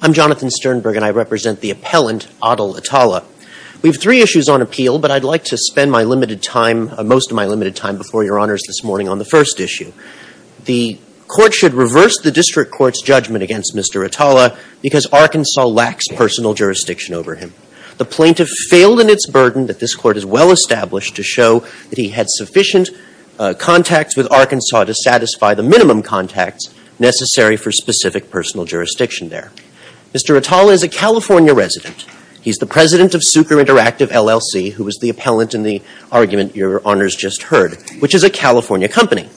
I'm Jonathan Sternberg, and I represent the appellant, Adel Atalla. We have three issues on appeal, but I'd like to spend my limited time, most of my limited time before your honors this morning on the first issue. The court should reverse the district court's judgment against Mr. Atalla because Arkansas lacks personal jurisdiction over him. The plaintiff failed in its burden that this court has well established to show that he had sufficient contacts with Arkansas to satisfy the minimum contacts necessary for specific personal jurisdiction there. Mr. Atalla is a California resident. He's the president of Sucre Interactive LLC, who was the appellant in the argument your honors just heard, which is a California company.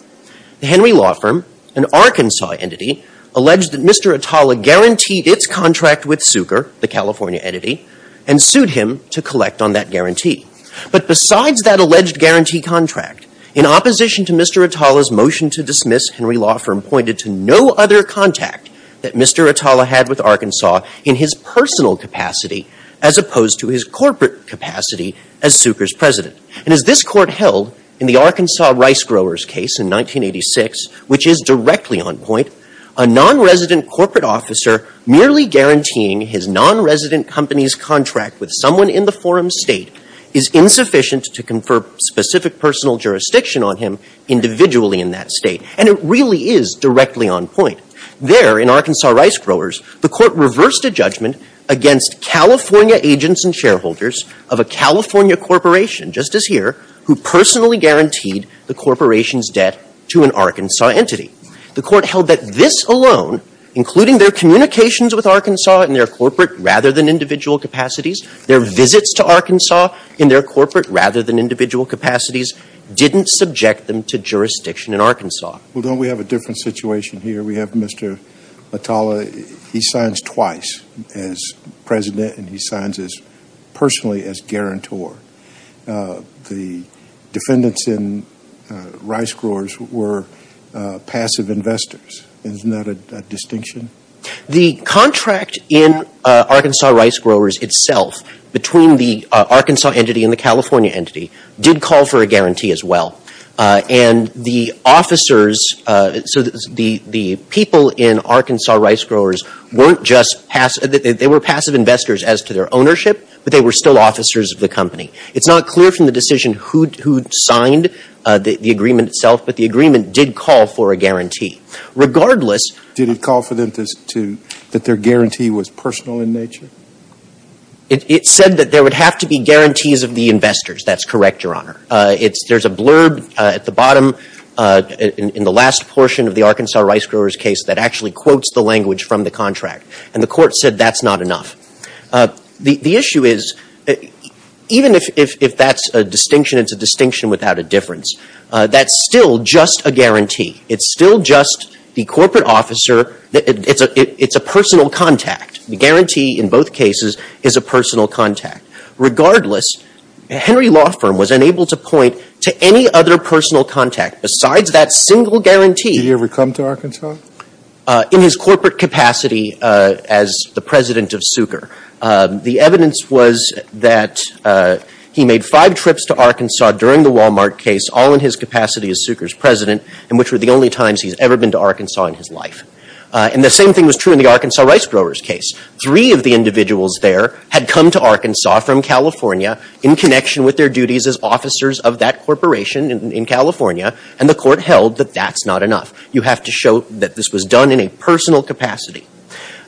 The Henry Law Firm, an Arkansas entity, alleged that Mr. Atalla guaranteed its contract with Sucre, the California entity, and sued him to collect on that guarantee. But besides that alleged guarantee contract, in opposition to Mr. Atalla's motion to Arkansas in his personal capacity as opposed to his corporate capacity as Sucre's president. And as this court held in the Arkansas rice growers case in 1986, which is directly on point, a nonresident corporate officer merely guaranteeing his nonresident company's contract with someone in the forum's state is insufficient to confer specific personal jurisdiction on him individually in that state. And it really is directly on point. There in Arkansas rice growers, the court reversed a judgment against California agents and shareholders of a California corporation, just as here, who personally guaranteed the corporation's debt to an Arkansas entity. The court held that this alone, including their communications with Arkansas in their corporate rather than individual capacities, their visits to Arkansas in their corporate rather than individual capacities, didn't subject them to jurisdiction in Arkansas. Well, don't we have a different situation here? We have Mr. Atalla, he signs twice as president and he signs as personally as guarantor. The defendants in rice growers were passive investors. Isn't that a distinction? The contract in Arkansas rice growers itself between the Arkansas entity and the California entity did call for a guarantee as well. And the officers, so the people in Arkansas rice growers weren't just passive, they were passive investors as to their ownership, but they were still officers of the company. It's not clear from the decision who signed the agreement itself, but the agreement did call for a guarantee. Regardless Did it call for them to, that their guarantee was personal in nature? It said that there would have to be guarantees of the investors. That's correct, Your Honor. There's a blurb at the bottom in the last portion of the Arkansas rice growers case that actually quotes the language from the contract. And the court said that's not enough. The issue is, even if that's a distinction, it's a distinction without a difference. That's still just a guarantee. It's still just the corporate officer, it's a personal contact. The guarantee in both cases is a personal contact. Regardless, Henry Law Firm was unable to point to any other personal contact besides that single guarantee. Did he ever come to Arkansas? In his corporate capacity as the president of Suker. The evidence was that he made five trips to Arkansas during the Walmart case, all in his capacity as Suker's president, and which were the only times he's ever been to Arkansas in his life. And the same thing was true in the Arkansas rice growers case. Three of the individuals there had come to Arkansas from California in connection with their duties as officers of that corporation in California, and the court held that that's not enough. You have to show that this was done in a personal capacity.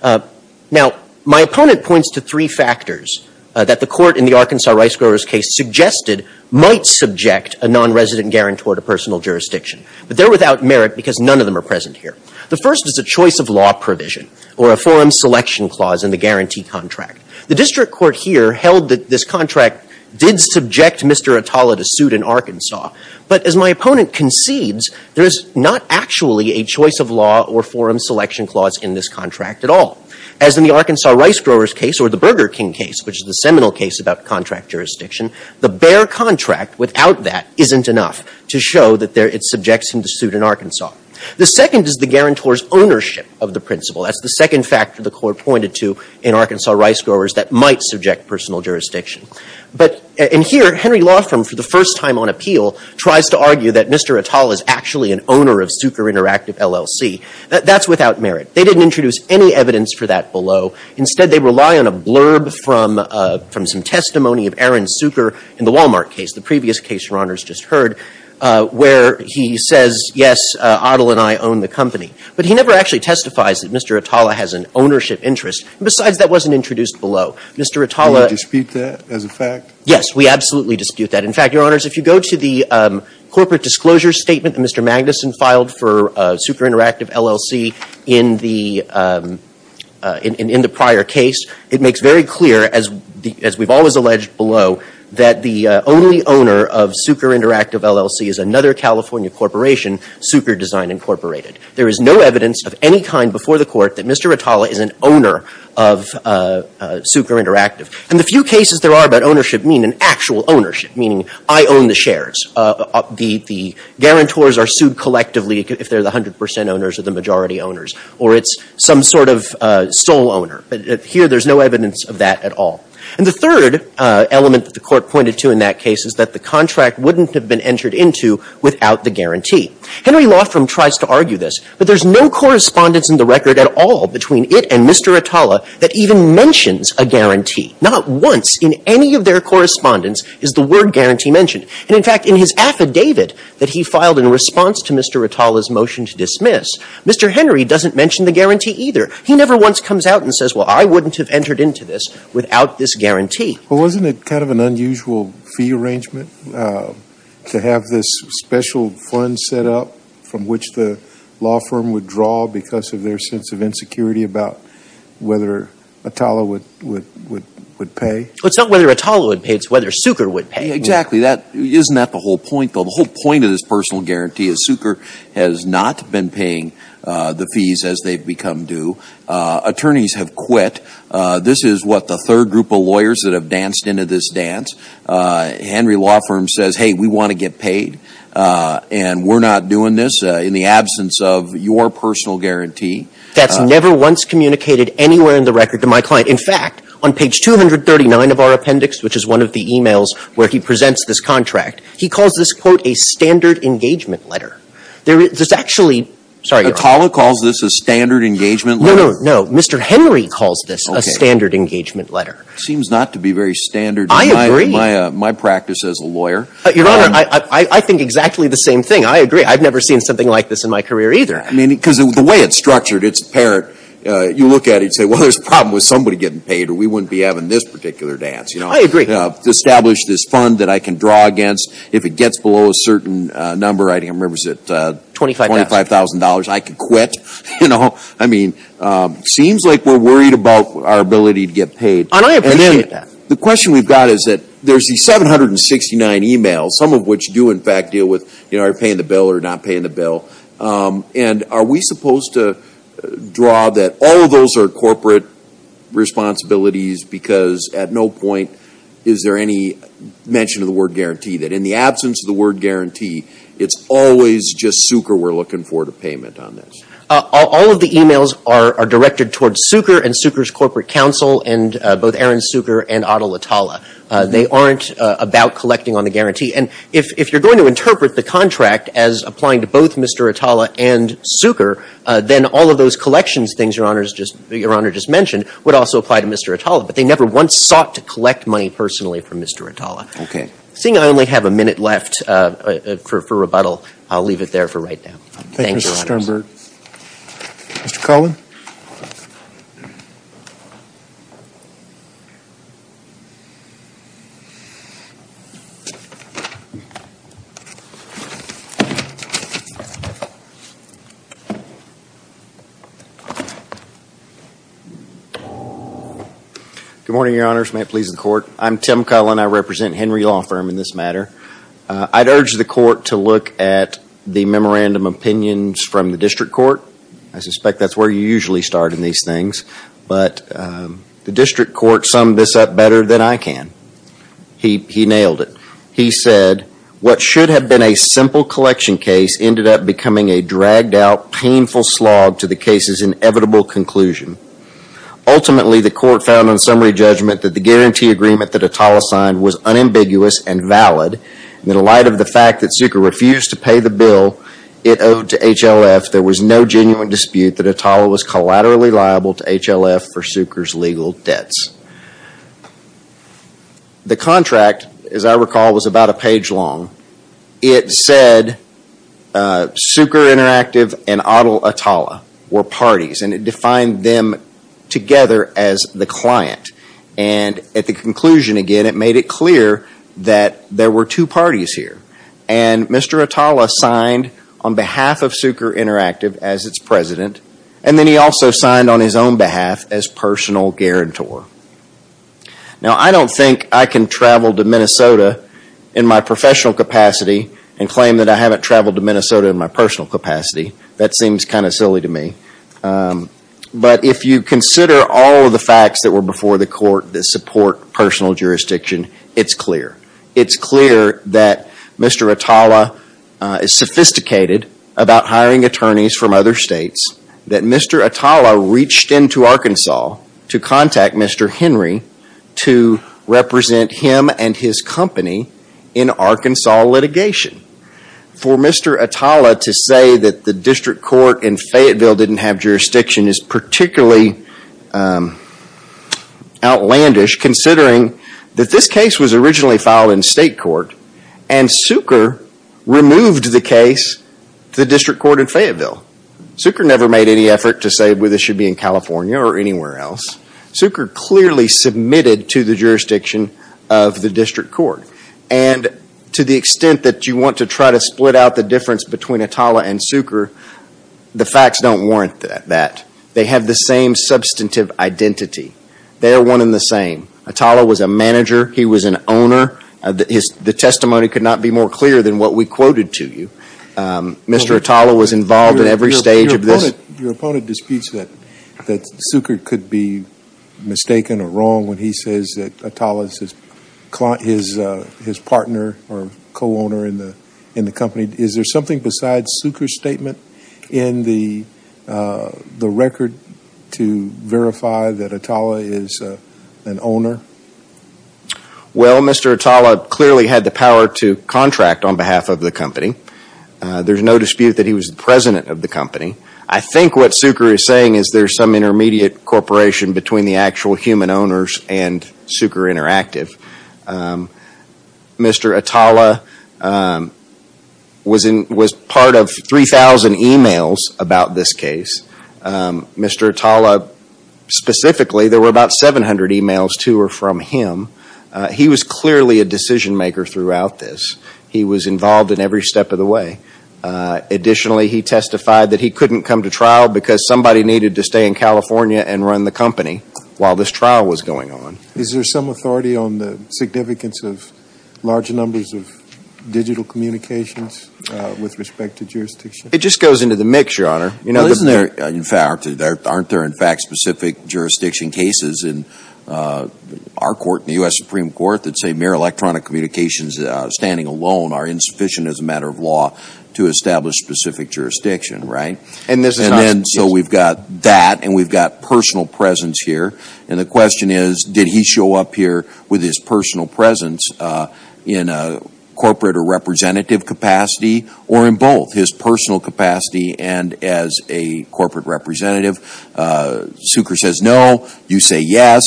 Now my opponent points to three factors that the court in the Arkansas rice growers case suggested might subject a non-resident guarantor to personal jurisdiction. But they're without merit because none of them are present here. The first is a choice of law provision, or a forum selection clause in the guarantee contract. The district court here held that this contract did subject Mr. Atala to suit in Arkansas. But as my opponent concedes, there is not actually a choice of law or forum selection clause in this contract at all. As in the Arkansas rice growers case, or the Burger King case, which is the seminal case about contract jurisdiction, the bare contract without that isn't enough to show that it subjects him to suit in Arkansas. The second is the guarantor's ownership of the principle. That's the second factor the court pointed to in Arkansas rice growers that might subject personal jurisdiction. But in here, Henry Lawfirm, for the first time on appeal, tries to argue that Mr. Atala is actually an owner of Sucre Interactive LLC. That's without merit. They didn't introduce any evidence for that below. Instead, they rely on a blurb from some testimony of Aaron Sucre in the Wal-Mart case, the previous case, Your Honors, just heard, where he says, yes, Adil and I own the company. But he never actually testifies that Mr. Atala has an ownership interest. And besides, that wasn't introduced below. Mr. Atala — Can you dispute that as a fact? Yes. We absolutely dispute that. In fact, Your Honors, if you go to the corporate disclosure statement that Mr. Magnuson filed for Sucre Interactive LLC in the — in the prior case, it makes very clear, as we've always alleged below, that the only owner of Sucre Interactive LLC is another California corporation, Sucre Design Incorporated. There is no evidence of any kind before the court that Mr. Atala is an owner of Sucre Interactive. And the few cases there are about ownership mean an actual ownership, meaning I own the shares. The guarantors are sued collectively if they're the 100 percent owners or the majority owners, or it's some sort of sole owner. But here, there's no evidence of that at all. And the third element that the Court pointed to in that case is that the contract wouldn't have been entered into without the guarantee. Henry Laughram tries to argue this, but there's no correspondence in the record at all between it and Mr. Atala that even mentions a guarantee. Not once in any of their correspondence is the word guarantee mentioned. And in fact, in his affidavit that he filed in response to Mr. Atala's motion to dismiss, Mr. Henry doesn't mention the guarantee either. He never once comes out and says, well, I wouldn't have entered into this without this guarantee. Well, wasn't it kind of an unusual fee arrangement to have this special fund set up from which the law firm would draw because of their sense of insecurity about whether Atala would pay? Well, it's not whether Atala would pay. It's whether Sucre would pay. Exactly. Isn't that the whole point, though? The whole point of this personal guarantee is Sucre has not been paying the fees as they've become due. Attorneys have quit. This is what the third group of lawyers that have danced into this dance. Henry Laughram says, hey, we want to get paid, and we're not doing this in the absence of your personal guarantee. That's never once communicated anywhere in the record to my client. In fact, on page 239 of our appendix, which is one of the e-mails where he presents this contract, he calls this, quote, a standard engagement letter. There is actually – sorry, Your Honor. Atala calls this a standard engagement letter? No, no, no. Mr. Henry calls this a standard engagement letter. Okay. It seems not to be very standard in my practice as a lawyer. I agree. Your Honor, I think exactly the same thing. I agree. I've never seen something like this in my career either. I mean, because of the way it's structured, it's apparent. You look at it, you'd say, well, there's a problem with somebody getting paid, or we wouldn't be having this particular dance, you know. I agree. Establish this fund that I can draw against. If it gets below a certain number, I think I remember it was at – $25,000. $25,000. I could quit, you know. I mean, it seems like we're worried about our ability to get paid. And I appreciate that. And then the question we've got is that there's these 769 e-mails, some of which do in fact deal with, you know, are you paying the bill or not paying the bill. And are we responsibilities because at no point is there any mention of the word guarantee, that in the absence of the word guarantee, it's always just Sucre we're looking for to payment on this. All of the e-mails are directed towards Sucre and Sucre's corporate counsel, and both Aaron Sucre and Adel Atala. They aren't about collecting on the guarantee. And if you're going to interpret the contract as applying to both Mr. Atala and Sucre, then all of those collections things Your Honor just mentioned would also apply to Mr. Atala. But they never once sought to collect money personally from Mr. Atala. Okay. Seeing I only have a minute left for rebuttal, I'll leave it there for right now. Thank you, Your Honors. Thank you, Mr. Sternberg. Mr. Carlin? Good morning, Your Honors. May it please the Court. I'm Tim Carlin. I represent Henry Law Firm in this matter. I'd urge the Court to look at the memorandum of opinions from the district court. I suspect that's where you usually start in these things, but the district court summed this up better than I can. He nailed it. He said, what should have been a simple collection case ended up becoming a dragged out, painful slog to the case's inevitable conclusion. Ultimately, the court found on summary judgment that the guarantee agreement that Atala signed was unambiguous and valid, and in light of the fact that Sucre refused to pay the bill it owed to HLF, there was no genuine dispute that Atala was collaterally liable to HLF for Sucre's legal debts. The contract, as I recall, was about a page long. It said Sucre Interactive and Adel Atala were parties, and it defined them together as the client. At the conclusion, again, it made it clear that there were two parties here, and Mr. Atala signed on behalf of Sucre Interactive as its president, and then he also signed on his own behalf as personal guarantor. Now I don't think I can travel to Minnesota in my professional capacity and claim that I haven't traveled to Minnesota in my personal capacity. That seems kind of silly to me, but if you consider all of the facts that were before the court that support personal jurisdiction, it's clear. It's clear that Mr. Atala is sophisticated about hiring attorneys from other states, that Mr. Atala reached into Arkansas to contact Mr. Henry to represent him and his company in Arkansas litigation. For Mr. Atala to say that the district court in Fayetteville didn't have jurisdiction is particularly outlandish, considering that this case was originally filed in state court, and Sucre removed the case to the district court in Fayetteville. Sucre never made any effort to say this should be in California or anywhere else. Sucre clearly submitted to the jurisdiction of the district court. To the extent that you want to try to split out the difference between Atala and Sucre, the facts don't warrant that. They have the same substantive identity. They are one and the same. Atala was a manager. He was an owner. The testimony could not be more clear than what we quoted to you. Mr. Atala was involved in every stage of this. Your opponent disputes that Sucre could be mistaken or wrong when he says that Atala is his partner or co-owner in the company. Is there something besides Sucre's statement in the record to verify that Atala is an owner? Well, Mr. Atala clearly had the power to contract on behalf of the company. There's no dispute that he was the president of the company. I think what Sucre is saying is there's some intermediate corporation between the actual human owners and Sucre Interactive. Mr. Atala was part of 3,000 emails about this case. Mr. Atala, specifically, there were about 700 emails to or from him. He was clearly a decision maker throughout this. He was involved in every step of the way. Additionally, he testified that he couldn't come to trial because somebody needed to stay in California and run the company while this trial was going on. Is there some authority on the significance of large numbers of digital communications with respect to jurisdiction? It just goes into the mix, Your Honor. Aren't there, in fact, specific jurisdiction cases in our court, in the U.S. Supreme Court, that say mere electronic communications standing alone are insufficient as a matter of law to establish specific jurisdiction, right? So we've got that and we've got personal presence here. The question is, did he show up here with his personal presence in a corporate or representative capacity or in both, his personal capacity and as a corporate representative? Sucre says no, you say yes,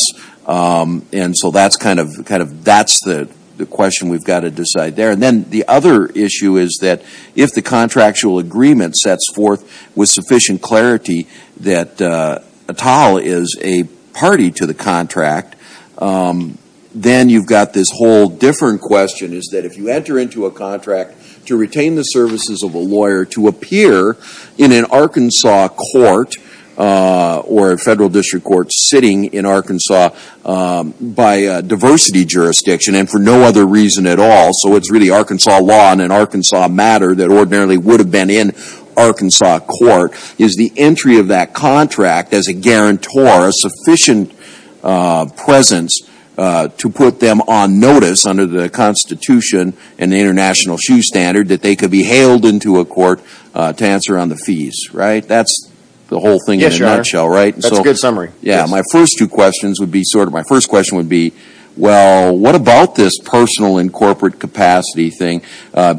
and so that's the question we've got to decide there. Then the other issue is that if the contractual agreement sets forth with sufficient clarity that Atal is a party to the contract, then you've got this whole different question is that if you enter into a contract to retain the services of a lawyer to appear in an Arkansas court or a federal district court sitting in Arkansas by a diversity jurisdiction and for no other reason at all, so it's really Arkansas law and an Arkansas matter that ordinarily would have been in Arkansas court, is the entry of that contract as a guarantor, a sufficient presence to put them on notice under the Constitution and the International Shoe Standard that they could be hailed into a court to answer on the fees, right? That's the whole thing in a nutshell, right? Yes, Your Honor. That's a good summary. My first two questions would be sort of, my first question would be, well, what about this personal and corporate capacity thing?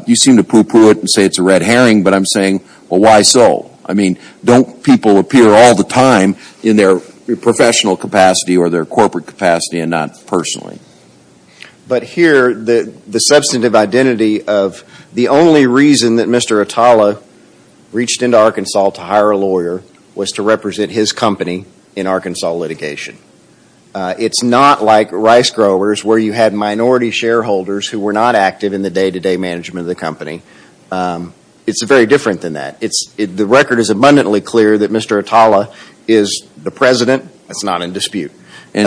You seem to poo-poo it and say it's a red herring, but I'm saying, well, why so? I mean, don't people appear all the time in their professional capacity or their corporate capacity and not personally? But here, the substantive identity of the only reason that Mr. Atala reached into Arkansas to hire a lawyer was to represent his company in Arkansas litigation. It's not like rice growers where you had minority shareholders who were not active in the day-to-day management of the company. It's very different than that. The record is abundantly clear that Mr. Atala is the president. That's not in dispute. He's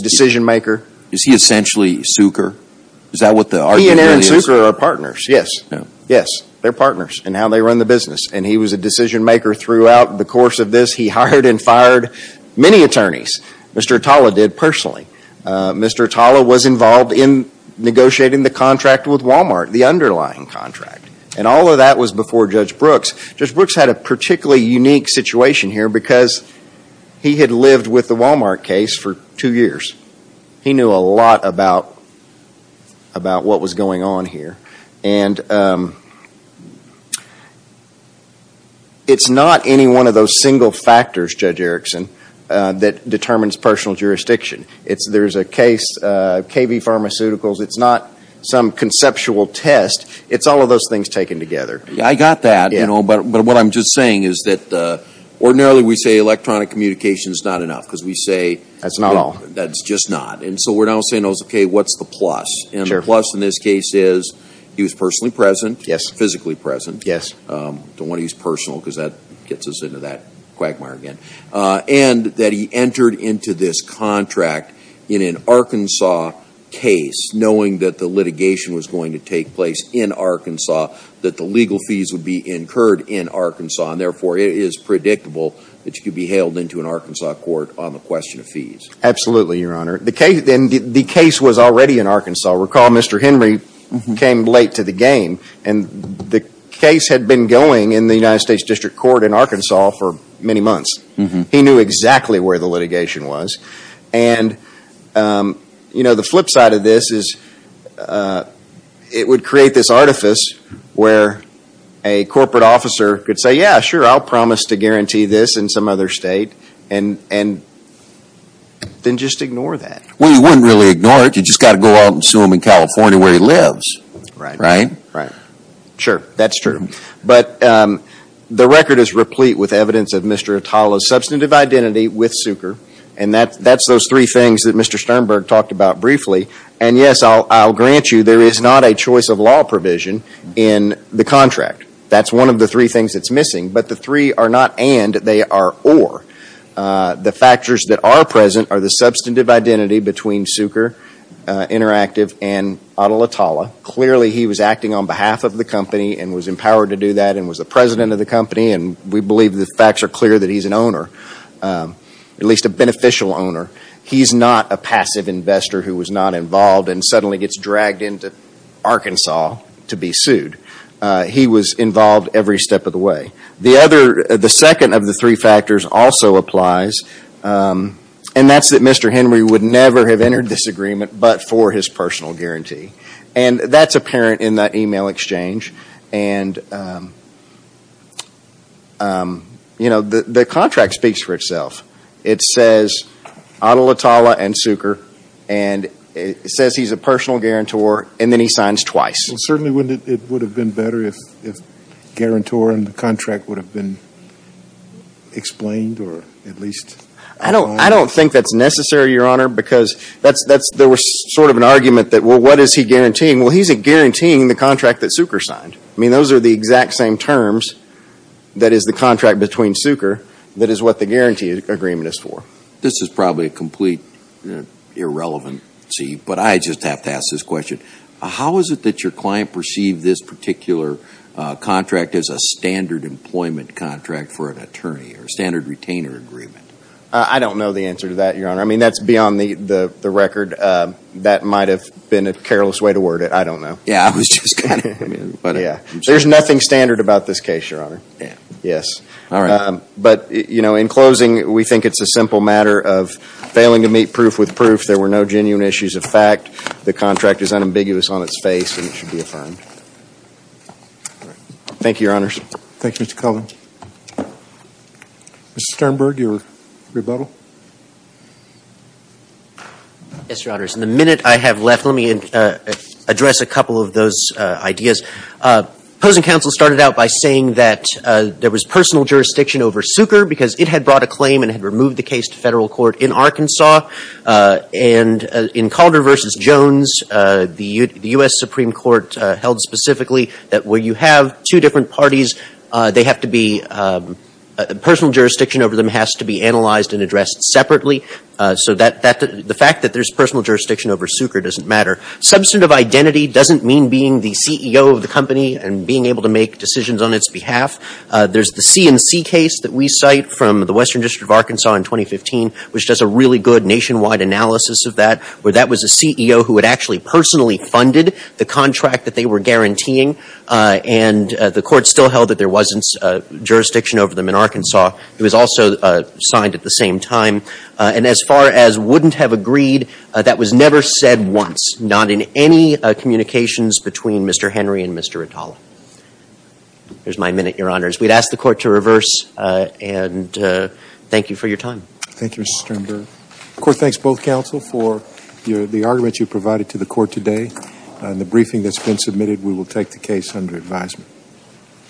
a decision-maker. Is he essentially Sucre? Is that what the argument really is? He and Aaron Sucre are partners, yes. Yes, they're partners in how they run the business, and he was a decision-maker throughout the course of this. He hired and fired many attorneys. Mr. Atala did personally. Mr. Atala was involved in negotiating the contract with Walmart. The underlying contract. And all of that was before Judge Brooks. Judge Brooks had a particularly unique situation here because he had lived with the Walmart case for two years. He knew a lot about what was going on here. And it's not any one of those single factors, Judge Erickson, that determines personal jurisdiction. There's a case, KV Pharmaceuticals. It's not some conceptual test. It's all of those things taken together. I got that, but what I'm just saying is that ordinarily we say electronic communication is not enough because we say... That's not all. That's just not. And so we're now saying, okay, what's the plus? And the plus in this case is he was personally present, physically present, don't want to use personal because that gets us into that quagmire again, and that he entered into this knowing that the litigation was going to take place in Arkansas, that the legal fees would be incurred in Arkansas, and therefore it is predictable that you could be hailed into an Arkansas court on the question of fees. Absolutely, Your Honor. The case was already in Arkansas. Recall Mr. Henry came late to the game, and the case had been going in the United States District Court in Arkansas for many months. He knew exactly where the litigation was. And, you know, the flip side of this is it would create this artifice where a corporate officer could say, yeah, sure, I'll promise to guarantee this in some other state, and then just ignore that. Well, you wouldn't really ignore it. You just got to go out and sue him in California where he lives, right? Right. Sure. That's true. But the record is replete with evidence of Mr. Atala's substantive identity with Suker, and that's those three things that Mr. Sternberg talked about briefly. And yes, I'll grant you there is not a choice of law provision in the contract. That's one of the three things that's missing. But the three are not and, they are or. The factors that are present are the substantive identity between Suker Interactive and Atala Atala. Clearly, he was acting on behalf of the company and was empowered to do that and was the president of the company, and we believe the facts are clear that he's an owner, at least a beneficial owner. He's not a passive investor who was not involved and suddenly gets dragged into Arkansas to be sued. He was involved every step of the way. The other, the second of the three factors also applies, and that's that Mr. Henry would never have entered this agreement but for his personal guarantee. And that's apparent in that email exchange. And you know, the contract speaks for itself. It says Atala Atala and Suker, and it says he's a personal guarantor, and then he signs twice. Well, certainly, wouldn't it, it would have been better if, if guarantor and the contract would have been explained or at least signed? I don't, I don't think that's necessary, Your Honor, because that's, that's, there was sort of an argument that, well, what is he guaranteeing? Well, he's guaranteeing the contract that Suker signed. I mean, those are the exact same terms that is the contract between Suker that is what the guarantee agreement is for. This is probably a complete irrelevancy, but I just have to ask this question. How is it that your client perceived this particular contract as a standard employment contract for an attorney or a standard retainer agreement? I don't know the answer to that, Your Honor. I mean, that's beyond the record. That might have been a careless way to word it. I don't know. Yeah, I was just kind of, I mean, but I'm sure. There's nothing standard about this case, Your Honor. Yeah. Yes. All right. But, you know, in closing, we think it's a simple matter of failing to meet proof with proof. There were no genuine issues of fact. The contract is unambiguous on its face, and it should be affirmed. Thank you, Your Honors. Thank you, Mr. Cullin. Mr. Sternberg, your rebuttal. Yes, Your Honors, in the minute I have left, let me address a couple of those ideas. Opposing counsel started out by saying that there was personal jurisdiction over Suker because it had brought a claim and had removed the case to federal court in Arkansas. And in Calder v. Jones, the U.S. Supreme Court held specifically that where you have two different parties, they have to be, personal jurisdiction over them has to be analyzed and addressed separately. So the fact that there's personal jurisdiction over Suker doesn't matter. Substantive identity doesn't mean being the CEO of the company and being able to make decisions on its behalf. There's the C&C case that we cite from the Western District of Arkansas in 2015, which does a really good nationwide analysis of that, where that was a CEO who had actually personally funded the contract that they were guaranteeing. And the court still held that there wasn't jurisdiction over them in Arkansas. It was also signed at the same time. And as far as wouldn't have agreed, that was never said once, not in any communications between Mr. Henry and Mr. Ritalo. There's my minute, your honors. We'd ask the court to reverse and thank you for your time. Thank you, Mr. Sternberg. The court thanks both counsel for the argument you provided to the court today and the briefing that's been submitted. We will take the case under advisement.